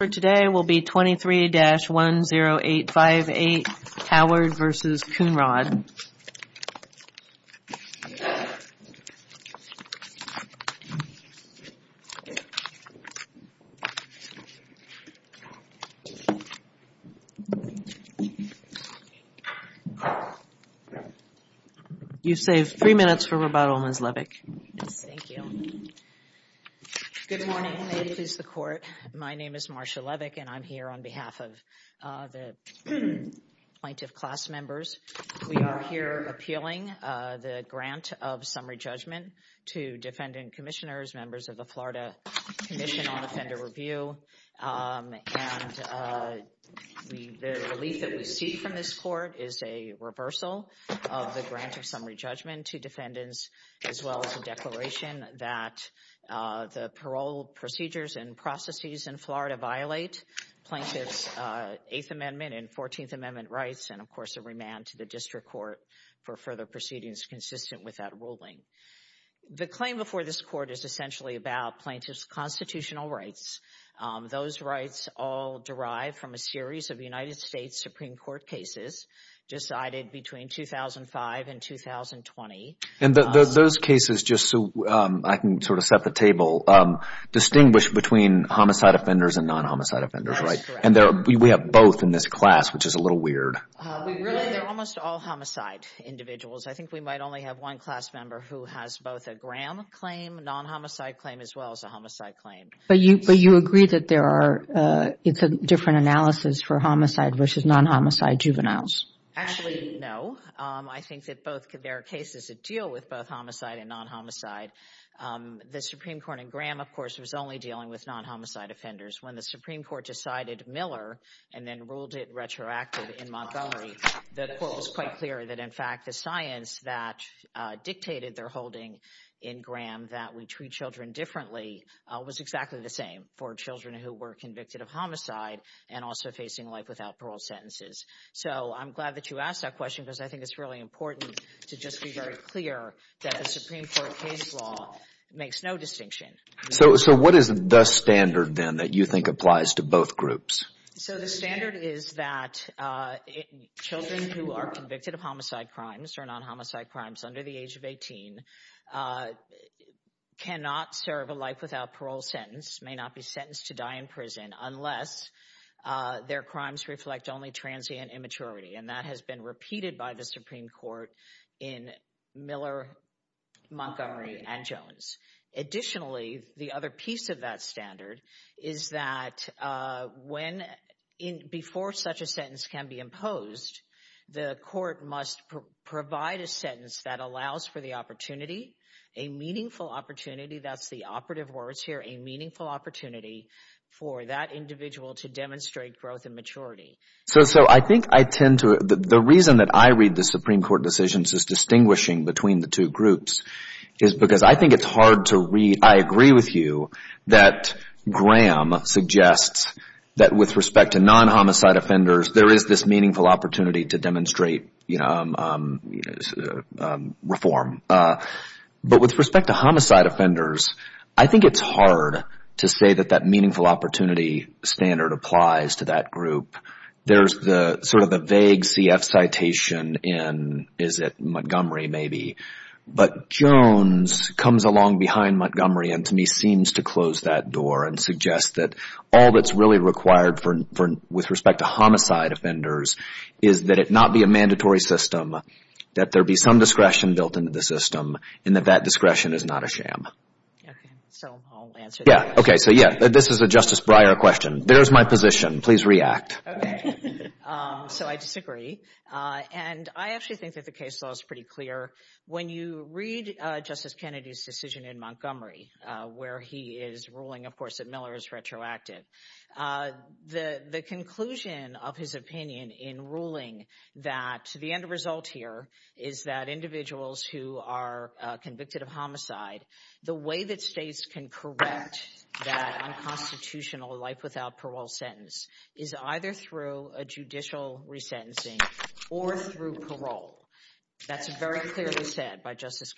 for today will be 23-10858 Howard v. Coonrod You saved three minutes for rebuttal Ms. Levick. Thank you. Good morning ladies of the court. My name is Marsha Levick and I'm here on behalf of the plaintiff class members. We are here appealing the grant of summary judgment to defendant commissioners, members of the Florida Commission on Offender Review and the relief that we see from this court is a reversal of the grant of summary judgment to defendants as well as a declaration that the parole procedures and processes in Florida violate plaintiff's Eighth Amendment and Fourteenth Amendment rights and of course a remand to the district court for further proceedings consistent with that ruling. The claim before this court is essentially about plaintiff's constitutional rights. Those rights all derive from a series of United States Supreme Court cases decided between 2005 and 2020. And those cases just so I can sort of set the table distinguish between homicide offenders and non-homicide offenders right and there we have both in this class which is a little weird. They're almost all homicide individuals. I think we might only have one class member who has both a Graham claim non-homicide claim as well as a homicide claim. But you agree that there are it's a different analysis for homicide versus non-homicide juveniles? Actually no. I think that both there are cases that deal with both homicide and non-homicide. The Supreme Court in Graham of course was only dealing with non-homicide offenders. When the Supreme Court decided Miller and then ruled it retroactive in Montgomery the court was quite clear that in fact the science that dictated their holding in Graham that we treat children differently was exactly the same for children who were convicted of homicide and also facing life parole sentences. So I'm glad that you asked that question because I think it's really important to just be very clear that the Supreme Court case law makes no distinction. So what is the standard then that you think applies to both groups? So the standard is that children who are convicted of homicide crimes or non-homicide crimes under the age of 18 cannot serve a life without parole sentence may not be sentenced to die in prison unless their crimes reflect only transient immaturity and that has been repeated by the Supreme Court in Miller Montgomery and Jones. Additionally the other piece of that standard is that when in before such a sentence can be imposed the court must provide a sentence that allows for the opportunity a meaningful opportunity that's operative words here a meaningful opportunity for that individual to demonstrate growth and maturity. So I think I tend to the reason that I read the Supreme Court decisions is distinguishing between the two groups is because I think it's hard to read I agree with you that Graham suggests that with respect to non-homicide offenders there is this meaningful opportunity to demonstrate you know reform but with respect to homicide offenders I think it's hard to say that that meaningful opportunity standard applies to that group there's the sort of the vague cf citation in is it Montgomery maybe but Jones comes along behind Montgomery and to me seems to close that door and suggest that all that's really required for with respect to homicide offenders is that it be a mandatory system that there be some discretion built into the system and that that discretion is not a sham. Okay so I'll answer yeah okay so yeah this is a Justice Breyer question there's my position please react. Okay so I disagree and I actually think that the case law is pretty clear when you read Justice Kennedy's decision in Montgomery where he is ruling of uh the the conclusion of his opinion in ruling that the end result here is that individuals who are convicted of homicide the way that states can correct that unconstitutional life without parole sentence is either through a judicial resentencing or through parole that's very clearly said by Justice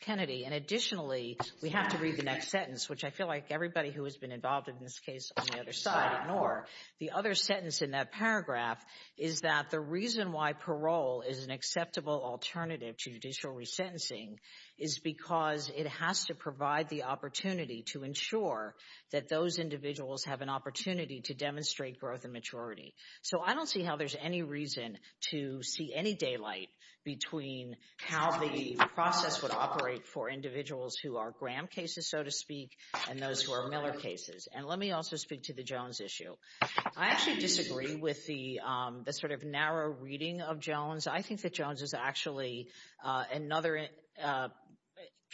Kennedy and additionally we have to read the next sentence which I feel like everybody who involved in this case on the other side ignore the other sentence in that paragraph is that the reason why parole is an acceptable alternative to judicial resentencing is because it has to provide the opportunity to ensure that those individuals have an opportunity to demonstrate growth and maturity so I don't see how there's any reason to see any daylight between how the process would for individuals who are Graham cases so to speak and those who are Miller cases and let me also speak to the Jones issue I actually disagree with the um the sort of narrow reading of Jones I think that Jones is actually uh another uh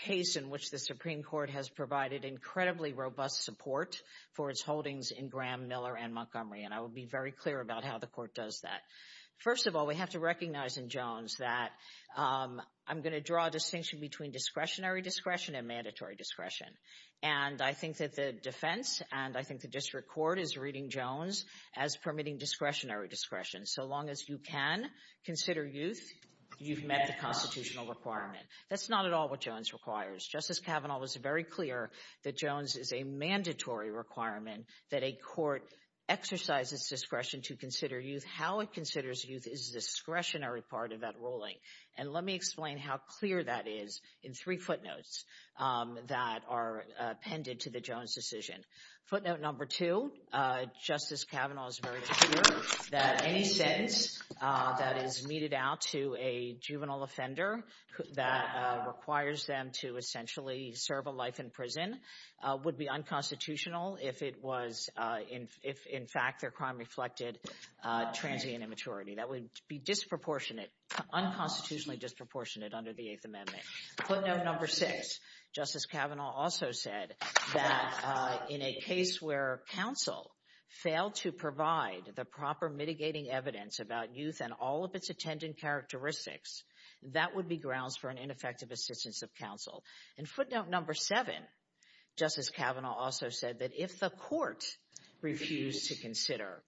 case in which the Supreme Court has provided incredibly robust support for its holdings in Graham, Miller, and Montgomery and I will be very clear about how the court does that. First of all we have to recognize in Jones that um I'm going to draw a distinction between discretionary discretion and mandatory discretion and I think that the defense and I think the district court is reading Jones as permitting discretionary discretion so long as you can consider youth you've met the constitutional requirement that's not at all what Jones requires Justice Kavanaugh was very clear that Jones is a mandatory requirement that a court exercises discretion to consider youth how it considers youth is a discretionary part of that ruling and let me explain how clear that is in three footnotes that are appended to the Jones decision footnote number two Justice Kavanaugh is very clear that any sentence that is meted out to a juvenile offender that requires them to essentially serve a life in prison would be unconstitutional if it was in if in fact their crime reflected transient immaturity that would be disproportionate unconstitutionally disproportionate under the eighth amendment footnote number six Justice Kavanaugh also said that in a case where counsel failed to provide the proper mitigating evidence about youth and all of its attendant characteristics that would be grounds for an ineffective assistance of counsel and footnote number seven Justice Kavanaugh also said that if the court refused to consider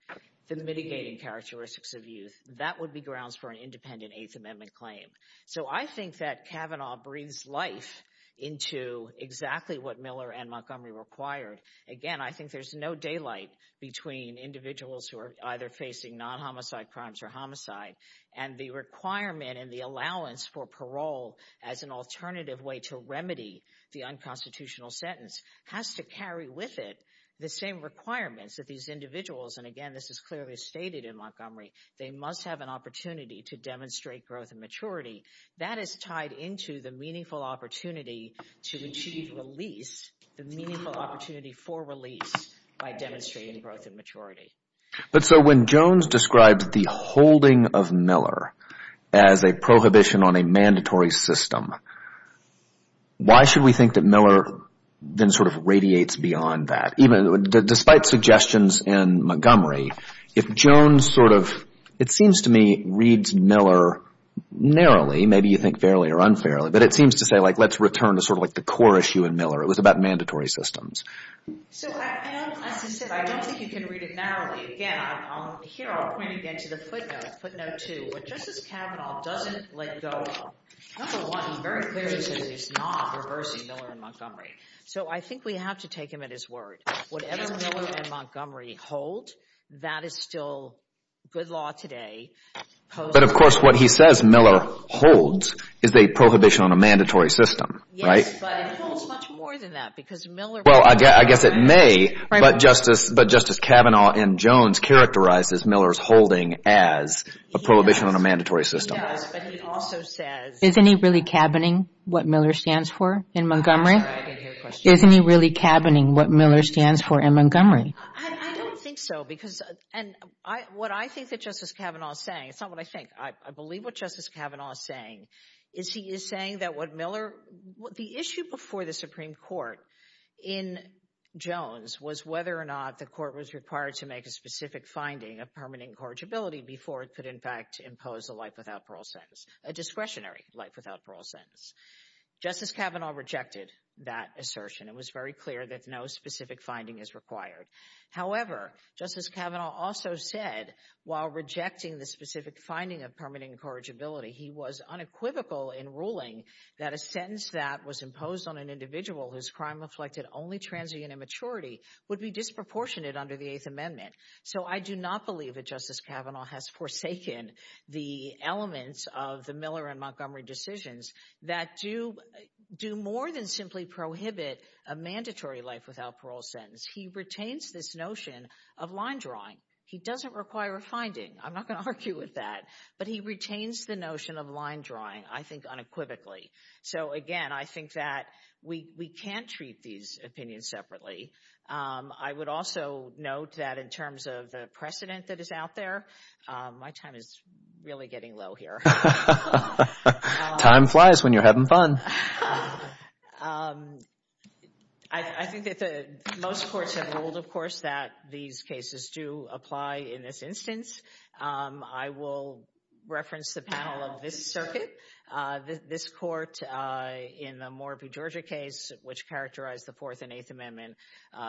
the mitigating characteristics of youth that would be grounds for an independent eighth amendment claim so I think that Kavanaugh breathes life into exactly what Miller and Montgomery required again I think there's no daylight between individuals who are either facing non-homicide crimes or homicide and the requirement and the allowance for parole as an alternative way to remedy the unconstitutional sentence has to carry with it the same requirements that these individuals and again this is clearly stated in Montgomery they must have an opportunity to demonstrate growth and maturity that is tied into the meaningful opportunity to achieve release the meaningful opportunity for release by demonstrating growth and maturity but so when Jones describes the holding of Miller as a prohibition on a mandatory system why should we think that Miller then sort of radiates beyond that even despite suggestions in Montgomery if Jones sort of it seems to me reads Miller narrowly maybe you think fairly or unfairly but it seems to say like let's return to sort of like the core issue in Miller it was about mandatory systems so as I said I don't think you can read it narrowly again here I'll point again to the footnote footnote two but Justice Kavanaugh doesn't let go of number one he very clearly says he's not reversing Miller and Montgomery so I think we have to take him at word whatever Miller and Montgomery hold that is still good law today but of course what he says Miller holds is a prohibition on a mandatory system right but it holds much more than that because Miller well I guess it may but Justice but Justice Kavanaugh and Jones characterizes Miller's holding as a prohibition on a mandatory system but he also says isn't he really cabining what Miller stands for in Montgomery isn't he really cabining what Miller stands for in Montgomery I don't think so because and I what I think that Justice Kavanaugh is saying it's not what I think I believe what Justice Kavanaugh is saying is he is saying that what Miller what the issue before the Supreme Court in Jones was whether or not the court was required to make a specific finding of permanent incorrigibility before it could in fact impose a life without parole sentence a discretionary life without parole sentence Justice Kavanaugh rejected that assertion it was very clear that no specific finding is required however Justice Kavanaugh also said while rejecting the specific finding of permanent incorrigibility he was unequivocal in ruling that a sentence that was imposed on an individual whose crime reflected only transient immaturity would be disproportionate under the eighth amendment so I do not believe that Justice Kavanaugh has forsaken the elements of the Miller and Montgomery decisions that do do more than simply prohibit a mandatory life without parole sentence he retains this notion of line drawing he doesn't require a finding I'm not going to argue with that but he retains the notion of line drawing I think unequivocally so again I think that we we can't treat these opinions separately I would also note that in terms of the precedent that is out there my time is really getting low here time flies when you're having fun I think that the most courts have ruled of course that these cases do apply in this instance I will reference the panel of this circuit this court in the Moore v. Georgia case which characterized the fourth and eighth amendment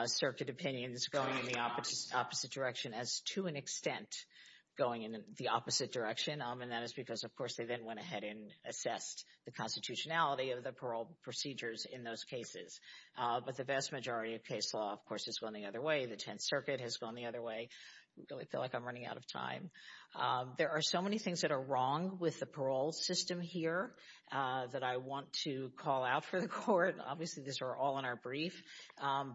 circuit opinions going in the opposite opposite direction as to an extent going in the opposite direction and that is because of course they then went ahead and assessed the constitutionality of the parole procedures in those cases but the vast majority of case law of course has gone the other way the 10th circuit has gone the other way I really feel like I'm running out of time there are so many things that are wrong with the parole system here that I want to call out for the court obviously these are all in our brief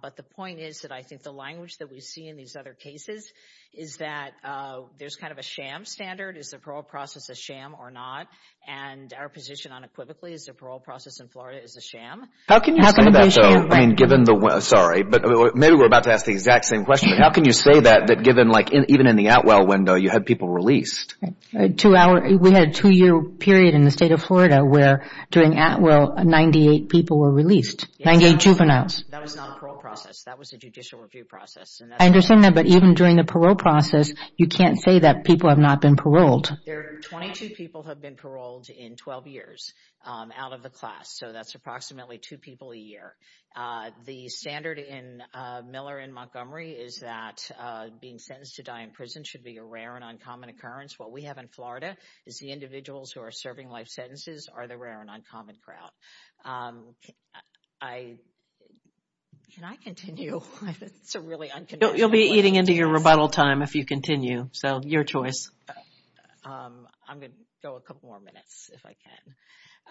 but the point is that I think the language that we see in these other cases is that there's kind of a sham standard is the parole process a sham or not and our position unequivocally is the parole process in Florida is a sham how can you say that though I mean given the sorry but maybe we're about to ask the exact same question how can you say that that given like even in the Atwell window you had people released to our we had a two-year period in the state of Florida where during Atwell 98 people were released 98 juveniles that was not a parole process that was a judicial review process I understand that but even during the parole process you can't say that people have not been paroled there are 22 people have been paroled in 12 years out of the class so that's approximately two people a year the standard in Miller in Montgomery is that being sentenced to die in prison should be a rare and uncommon occurrence what we have in Florida is the individuals who are serving life sentences are the rare and uncommon crowd I can I continue it's a really you'll be eating into your rebuttal time if you continue so your choice I'm gonna go a couple more minutes if I can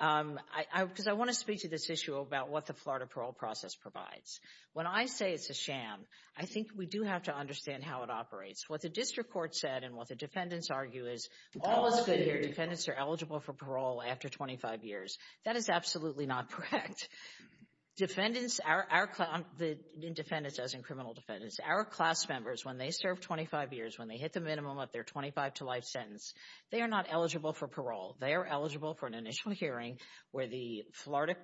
I because I want to say it's a sham I think we do have to understand how it operates what the district court said and what the defendants argue is all is good here defendants are eligible for parole after 25 years that is absolutely not correct defendants are our class the defendants as in criminal defendants our class members when they serve 25 years when they hit the minimum of their 25 to life sentence they are not eligible for parole they are eligible for an initial hearing where the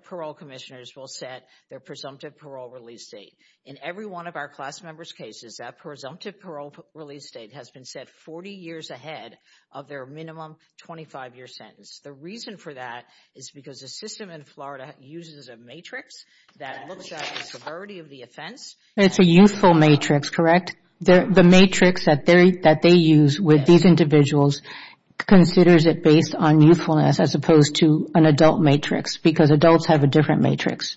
parole commissioners will set their presumptive parole release date in every one of our class members cases that presumptive parole release date has been set 40 years ahead of their minimum 25 year sentence the reason for that is because the system in Florida uses a matrix that looks at the severity of the offense it's a youthful matrix correct there the matrix that they that they use with these individuals considers it based on youthfulness as opposed to an adult matrix because adults have a different matrix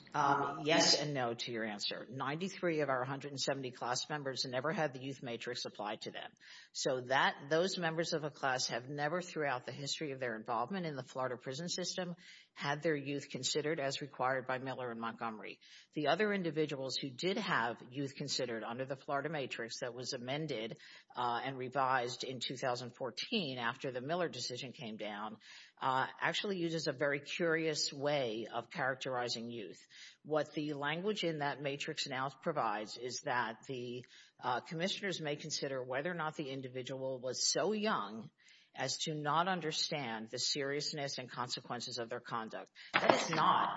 yes and no to your answer 93 of our 170 class members never had the youth matrix applied to them so that those members of a class have never throughout the history of their involvement in the Florida prison system had their youth considered as required by Miller and Montgomery the other individuals who did have youth considered under the Florida matrix that was amended and revised in 2014 after the Miller decision came down actually uses a very curious way of characterizing youth what the language in that matrix now provides is that the commissioners may consider whether or not the individual was so young as to not understand the seriousness and consequences of their conduct that is not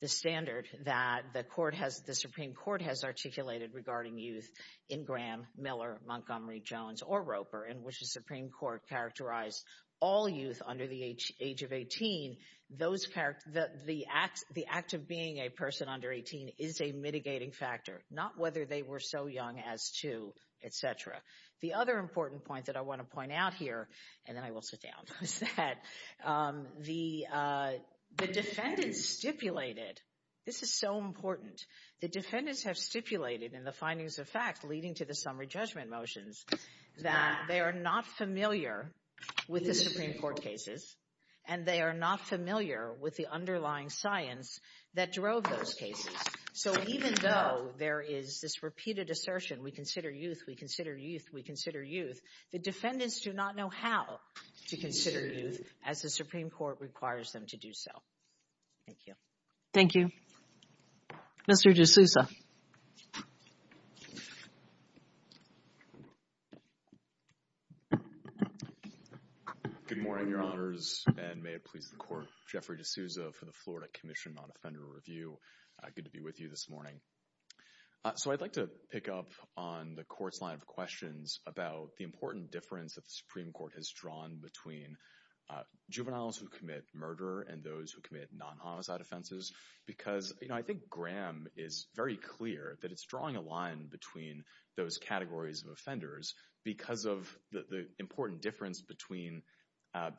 the standard that the court has the Supreme Court has articulated regarding youth in Graham, Miller, Montgomery, Jones, or Roper in which the Supreme Court characterized all youth under the age of 18 those characters that the act the act of being a person under 18 is a mitigating factor not whether they were so young as to etc the other important point that I want to point out here and then I will sit down is that the the defendants stipulated this is so important the defendants have stipulated in the findings of fact leading to the summary judgment motions that they are not familiar with the Supreme Court cases and they are not familiar with the underlying science that drove those cases so even though there is this repeated assertion we consider youth we consider youth we consider youth the defendants do not know how to consider youth as the Supreme Court requires them to do so thank you thank you Mr. D'Souza good morning your honors and may it please the court Jeffrey D'Souza for the Florida Commission on Offender Review good to be with you this morning so I'd like to pick up on the court's line of questions about the important difference that the Supreme Court has drawn between juveniles who commit murder and those who commit non-homicide offenses because you know I think Graham is very clear that it's drawing a line between those categories of offenders because of the important difference between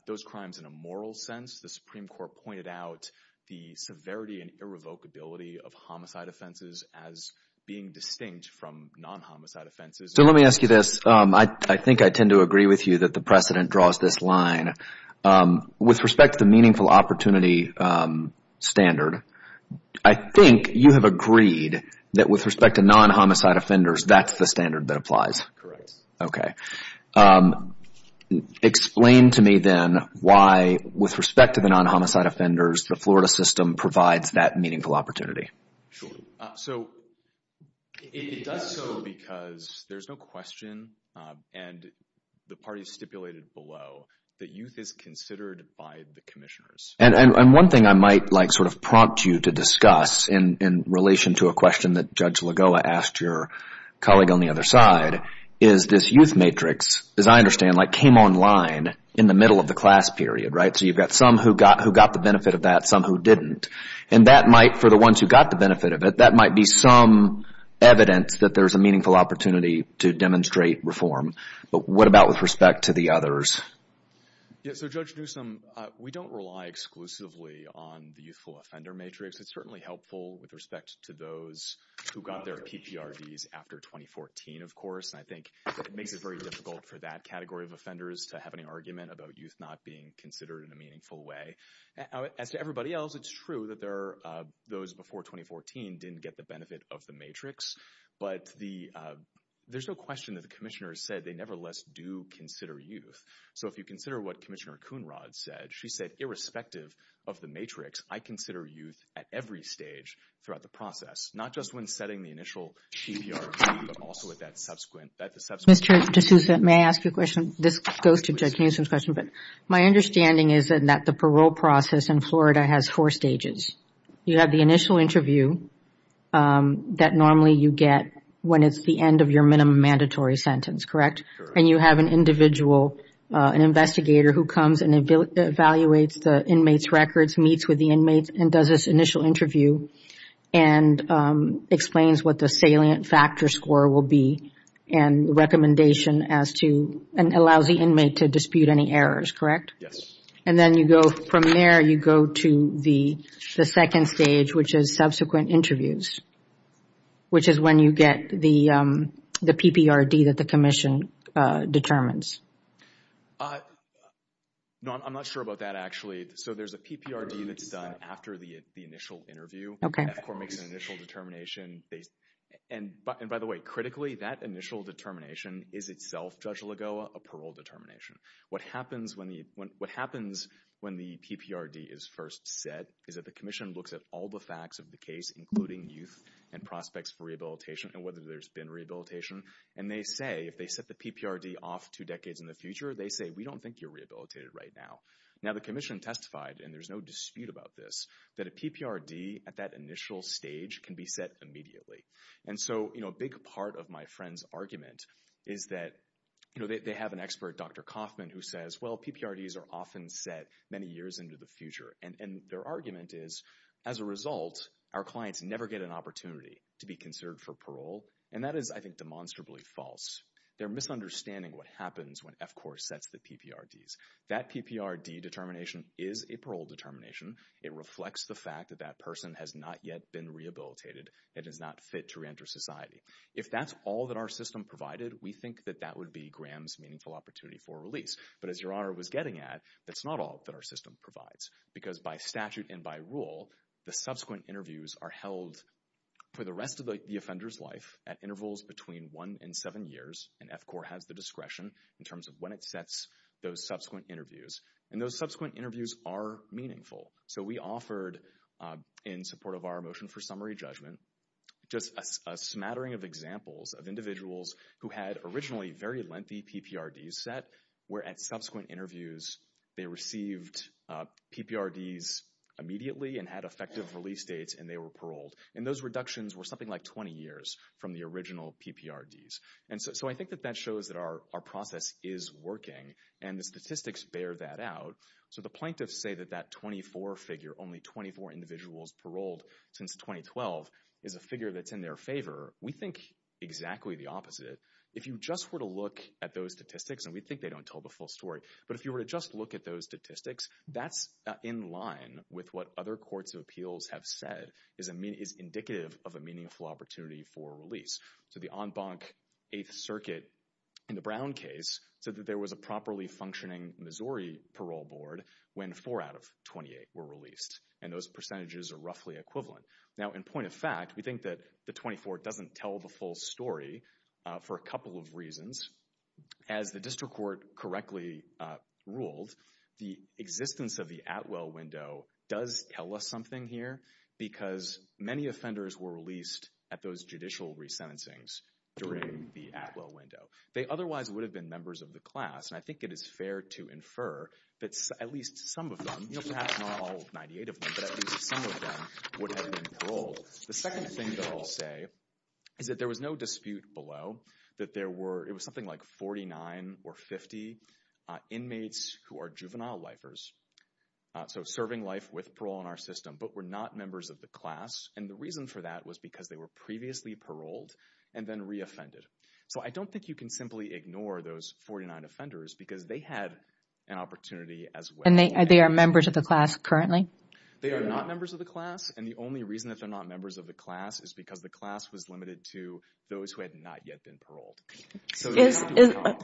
those crimes in a moral sense the Supreme Court pointed out the severity and irrevocability of homicide offenses as being distinct from non-homicide offenses so let me ask you this I think I tend to agree with you that the precedent draws this line with respect to the meaningful opportunity standard I think you have agreed that with respect to non-homicide offenders that's the standard that applies correct okay explain to me then why with respect to the non-homicide offenders the Florida system provides that meaningful opportunity sure so it does so because there's no question and the parties stipulated below that youth is considered by the commissioners and one thing I might like sort of prompt you to discuss in in relation to a question that Judge Lagoa asked your colleague on the other side is this youth matrix as I understand like came online in the middle of the class period right so you've got some who got who got the benefit of that some who didn't and that might for the ones who got the benefit of it that might be some evidence that there's a meaningful opportunity to demonstrate reform but what about with respect to the others yeah so Judge Newsom we don't rely exclusively on the youthful offender matrix it's certainly helpful with respect to those who got their pprds after 2014 of course and I think it makes it very difficult for that category of offenders to have any argument about youth not being considered in a meaningful way as to everybody else it's true that there are those before 2014 didn't get the of the matrix but the there's no question that the commissioner said they nevertheless do consider youth so if you consider what Commissioner Coonrod said she said irrespective of the matrix I consider youth at every stage throughout the process not just when setting the initial pprd but also at that subsequent Mr. D'Souza may I ask you a question this goes to Judge Newsom's question but my understanding is that the parole process in Florida has four stages you have the initial interview that normally you get when it's the end of your minimum mandatory sentence correct and you have an individual an investigator who comes and evaluates the inmates records meets with the inmates and does this initial interview and explains what the salient factor score will be and recommendation as to and allows the inmate to dispute any errors correct yes and then you go from there you go to the the second stage which is subsequent interviews which is when you get the the pprd that the commission determines uh no I'm not sure about that actually so there's a pprd that's done after the the initial interview okay of course makes an initial determination and by the way critically that initial determination is itself Judge Lagoa a parole determination what happens when the when what happens when the pprd is first set is that the commission looks at all the facts of the case including youth and prospects for rehabilitation and whether there's been rehabilitation and they say if they set the pprd off two decades in the future they say we don't think you're rehabilitated right now now the commission testified and there's no dispute about this that a pprd at that initial stage can be set immediately and so you know a big part of my friend's argument is that you know they have an expert dr kaufman who says well pprds are often set many years into the future and and their argument is as a result our clients never get an opportunity to be considered for parole and that is I think demonstrably false they're misunderstanding what happens when f core sets the pprds that pprd determination is a parole determination it reflects the fact that that person has not yet been rehabilitated it is not fit to reenter society if that's all that our system provided we think that that would be graham's meaningful opportunity for release but as your honor was getting at that's not all that our system provides because by statute and by rule the subsequent interviews are held for the rest of the offender's life at intervals between one and seven years and f core has the discretion in terms of when it sets those subsequent interviews and those subsequent our motion for summary judgment just a smattering of examples of individuals who had originally very lengthy pprds set where at subsequent interviews they received pprds immediately and had effective release dates and they were paroled and those reductions were something like 20 years from the original pprds and so I think that that shows that our our process is working and the statistics bear that out so the plaintiffs say that that 24 figure only 24 individuals paroled since 2012 is a figure that's in their favor we think exactly the opposite if you just were to look at those statistics and we think they don't tell the full story but if you were to just look at those statistics that's in line with what other courts of appeals have said is a mean is indicative of a meaningful opportunity for release so the en banc eighth circuit in the brown case said that there was a properly functioning missouri parole board when four out of 28 were released and those percentages are roughly equivalent now in point of fact we think that the 24 doesn't tell the full story for a couple of reasons as the district court correctly ruled the existence of the at well window does tell us something here because many offenders were released at those judicial resentencings during the at well window they otherwise would have been members of the class and i think it is fair to infer that at least some of them you know perhaps not all 98 of them but at least some of them would have been paroled the second thing that i'll say is that there was no dispute below that there were it was something like 49 or 50 inmates who are juvenile lifers so serving life with parole in our system but were not members of the class and the reason for that was because they were previously paroled and then re-offended so i don't think you can simply ignore those 49 offenders because they had an opportunity as well and they are members of the class currently they are not members of the class and the only reason that they're not members of the class is because the class was limited to those who had not yet been paroled so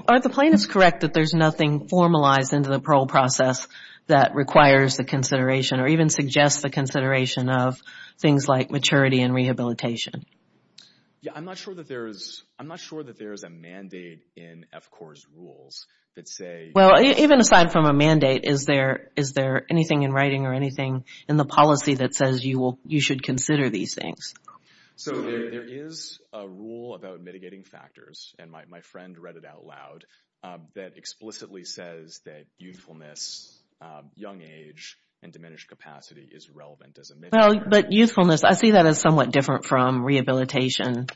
are the plaintiffs correct that there's nothing formalized into the parole process that requires the consideration or even suggests the consideration of things like maturity and rehabilitation yeah i'm not sure that there is i'm not sure that there is a mandate in f core's rules that say well even aside from a mandate is there is there anything in writing or anything in the policy that says you will you should consider these things so there is a rule about mitigating factors and my friend read it out loud that explicitly says that youthfulness young age and diminished capacity is relevant as well but youthfulness i see that as somewhat different from rehabilitation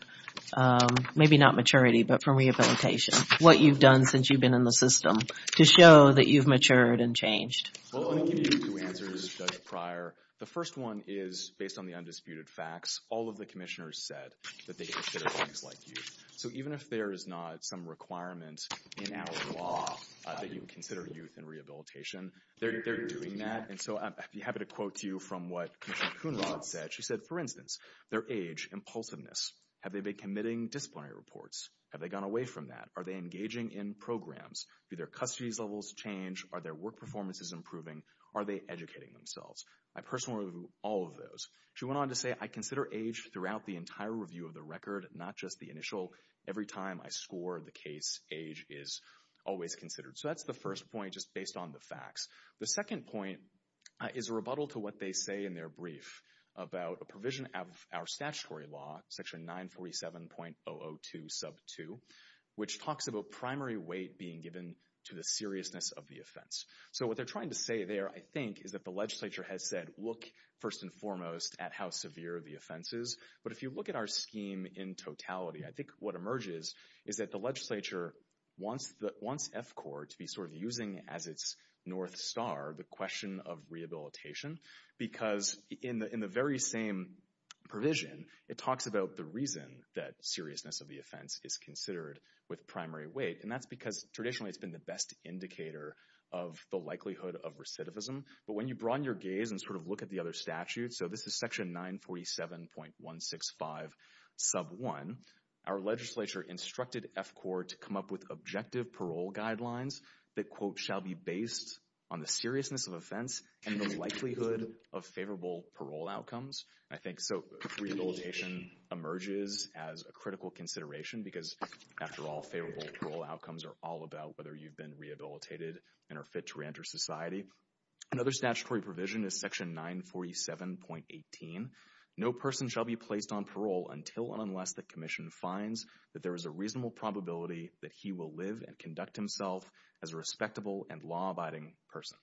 um maybe not maturity but from rehabilitation what you've done since you've been in the system to show that you've matured and changed two answers prior the first one is based on the undisputed facts all of the commissioners said that they consider things like youth so even if there is not some requirement in our law that you consider youth and rehabilitation they're doing that and so i'd be happy to quote to you from what commission kuna said she said for instance their age impulsiveness have they been committing disciplinary reports have they gone away from that are they engaging in programs do their custody levels change are their work performances improving are they educating themselves i personally review all of those she went on to say i consider age throughout the entire review of the record not just the initial every time i score the case age is always considered so that's the first point just based on the facts the second point is a rebuttal to what they say in their brief about a provision of our statutory law section 947.002 sub 2 which talks about primary weight being given to the seriousness of the offense so what they're trying to say there i think is that the legislature has said look first and foremost at how severe the offense is but if you look at our scheme in totality i think what emerges is that the legislature wants the wants to be sort of using as its north star the question of rehabilitation because in the in the very same provision it talks about the reason that seriousness of the offense is considered with primary weight and that's because traditionally it's been the best indicator of the likelihood of recidivism but when you broaden your gaze and sort of look at the other statute so this is section 947.165 sub 1 our legislature instructed f core to come up with parole guidelines that quote shall be based on the seriousness of offense and the likelihood of favorable parole outcomes i think so rehabilitation emerges as a critical consideration because after all favorable parole outcomes are all about whether you've been rehabilitated and are fit to reenter society another statutory provision is section 947.18 no person shall be placed on parole until and unless the commission finds that there is a reasonable probability that he will live and conduct himself as a respectable and law-abiding person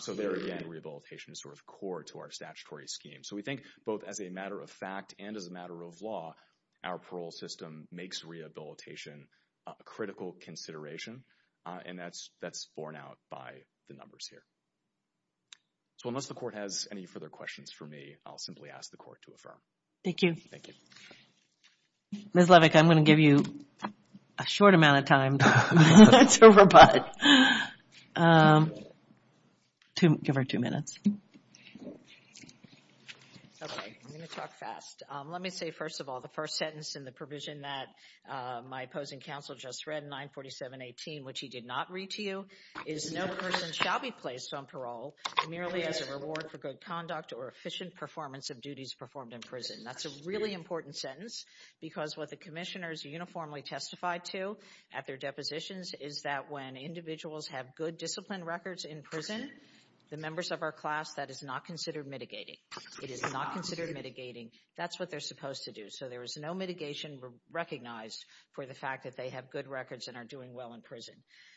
so there again rehabilitation is sort of core to our statutory scheme so we think both as a matter of fact and as a matter of law our parole system makes rehabilitation a critical consideration and that's that's borne out by the numbers here so unless the court has any further questions for me i'll simply ask the court to thank you thank you miss levick i'm going to give you a short amount of time that's over but um to give her two minutes okay i'm going to talk fast um let me say first of all the first sentence in the provision that uh my opposing counsel just read 947 18 which he did not read to you is no person shall be placed on parole merely as a reward for good conduct or efficient performance of duties performed in prison that's a really important sentence because what the commissioners uniformly testified to at their depositions is that when individuals have good discipline records in prison the members of our class that is not considered mitigating it is not considered mitigating that's what they're supposed to do so there is no mitigation recognized for the fact that they have good records and are doing well in prison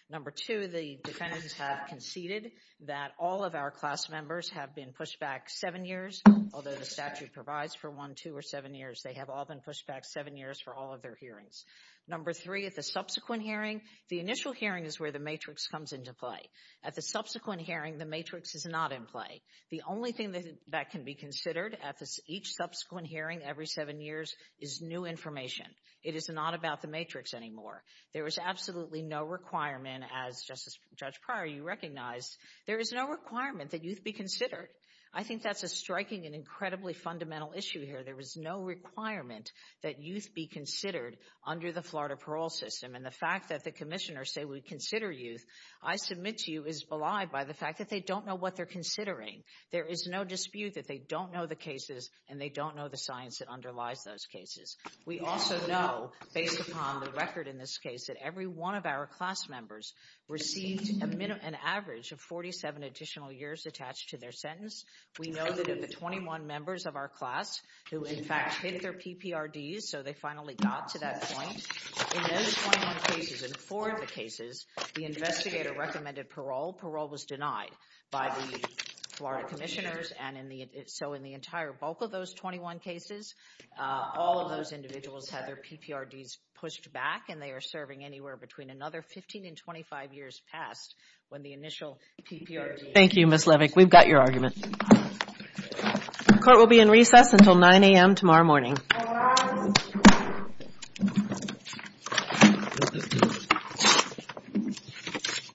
number two the defendants have conceded that all of our class members have been pushed back seven years although the statute provides for one two or seven years they have all been pushed back seven years for all of their hearings number three at the subsequent hearing the initial hearing is where the matrix comes into play at the subsequent hearing the matrix is not in play the only thing that can be considered at this each subsequent hearing every seven years is new information it is not about the matrix anymore there is absolutely no requirement as justice judge prior you recognized there is no requirement that youth be considered i think that's a striking and incredibly fundamental issue here there is no requirement that youth be considered under the florida parole system and the fact that the commissioner say we consider youth i submit to you is belied by the fact that they don't know what they're considering there is no dispute that they don't know the cases and they don't know the science that underlies those cases we also know based upon the record in this case that every one of our class members received a minimum average of 47 additional years attached to their sentence we know that of the 21 members of our class who in fact hit their pprds so they finally got to that point in those 21 cases in four of the cases the investigator recommended parole parole was denied by the florida commissioners and in the so in the entire bulk of those 21 cases all of those individuals had their pprds pushed back and they are serving anywhere between another 15 and 25 years past when the initial pprd thank you miss levick we've got your argument court will be in recess until 9 a.m tomorrow morning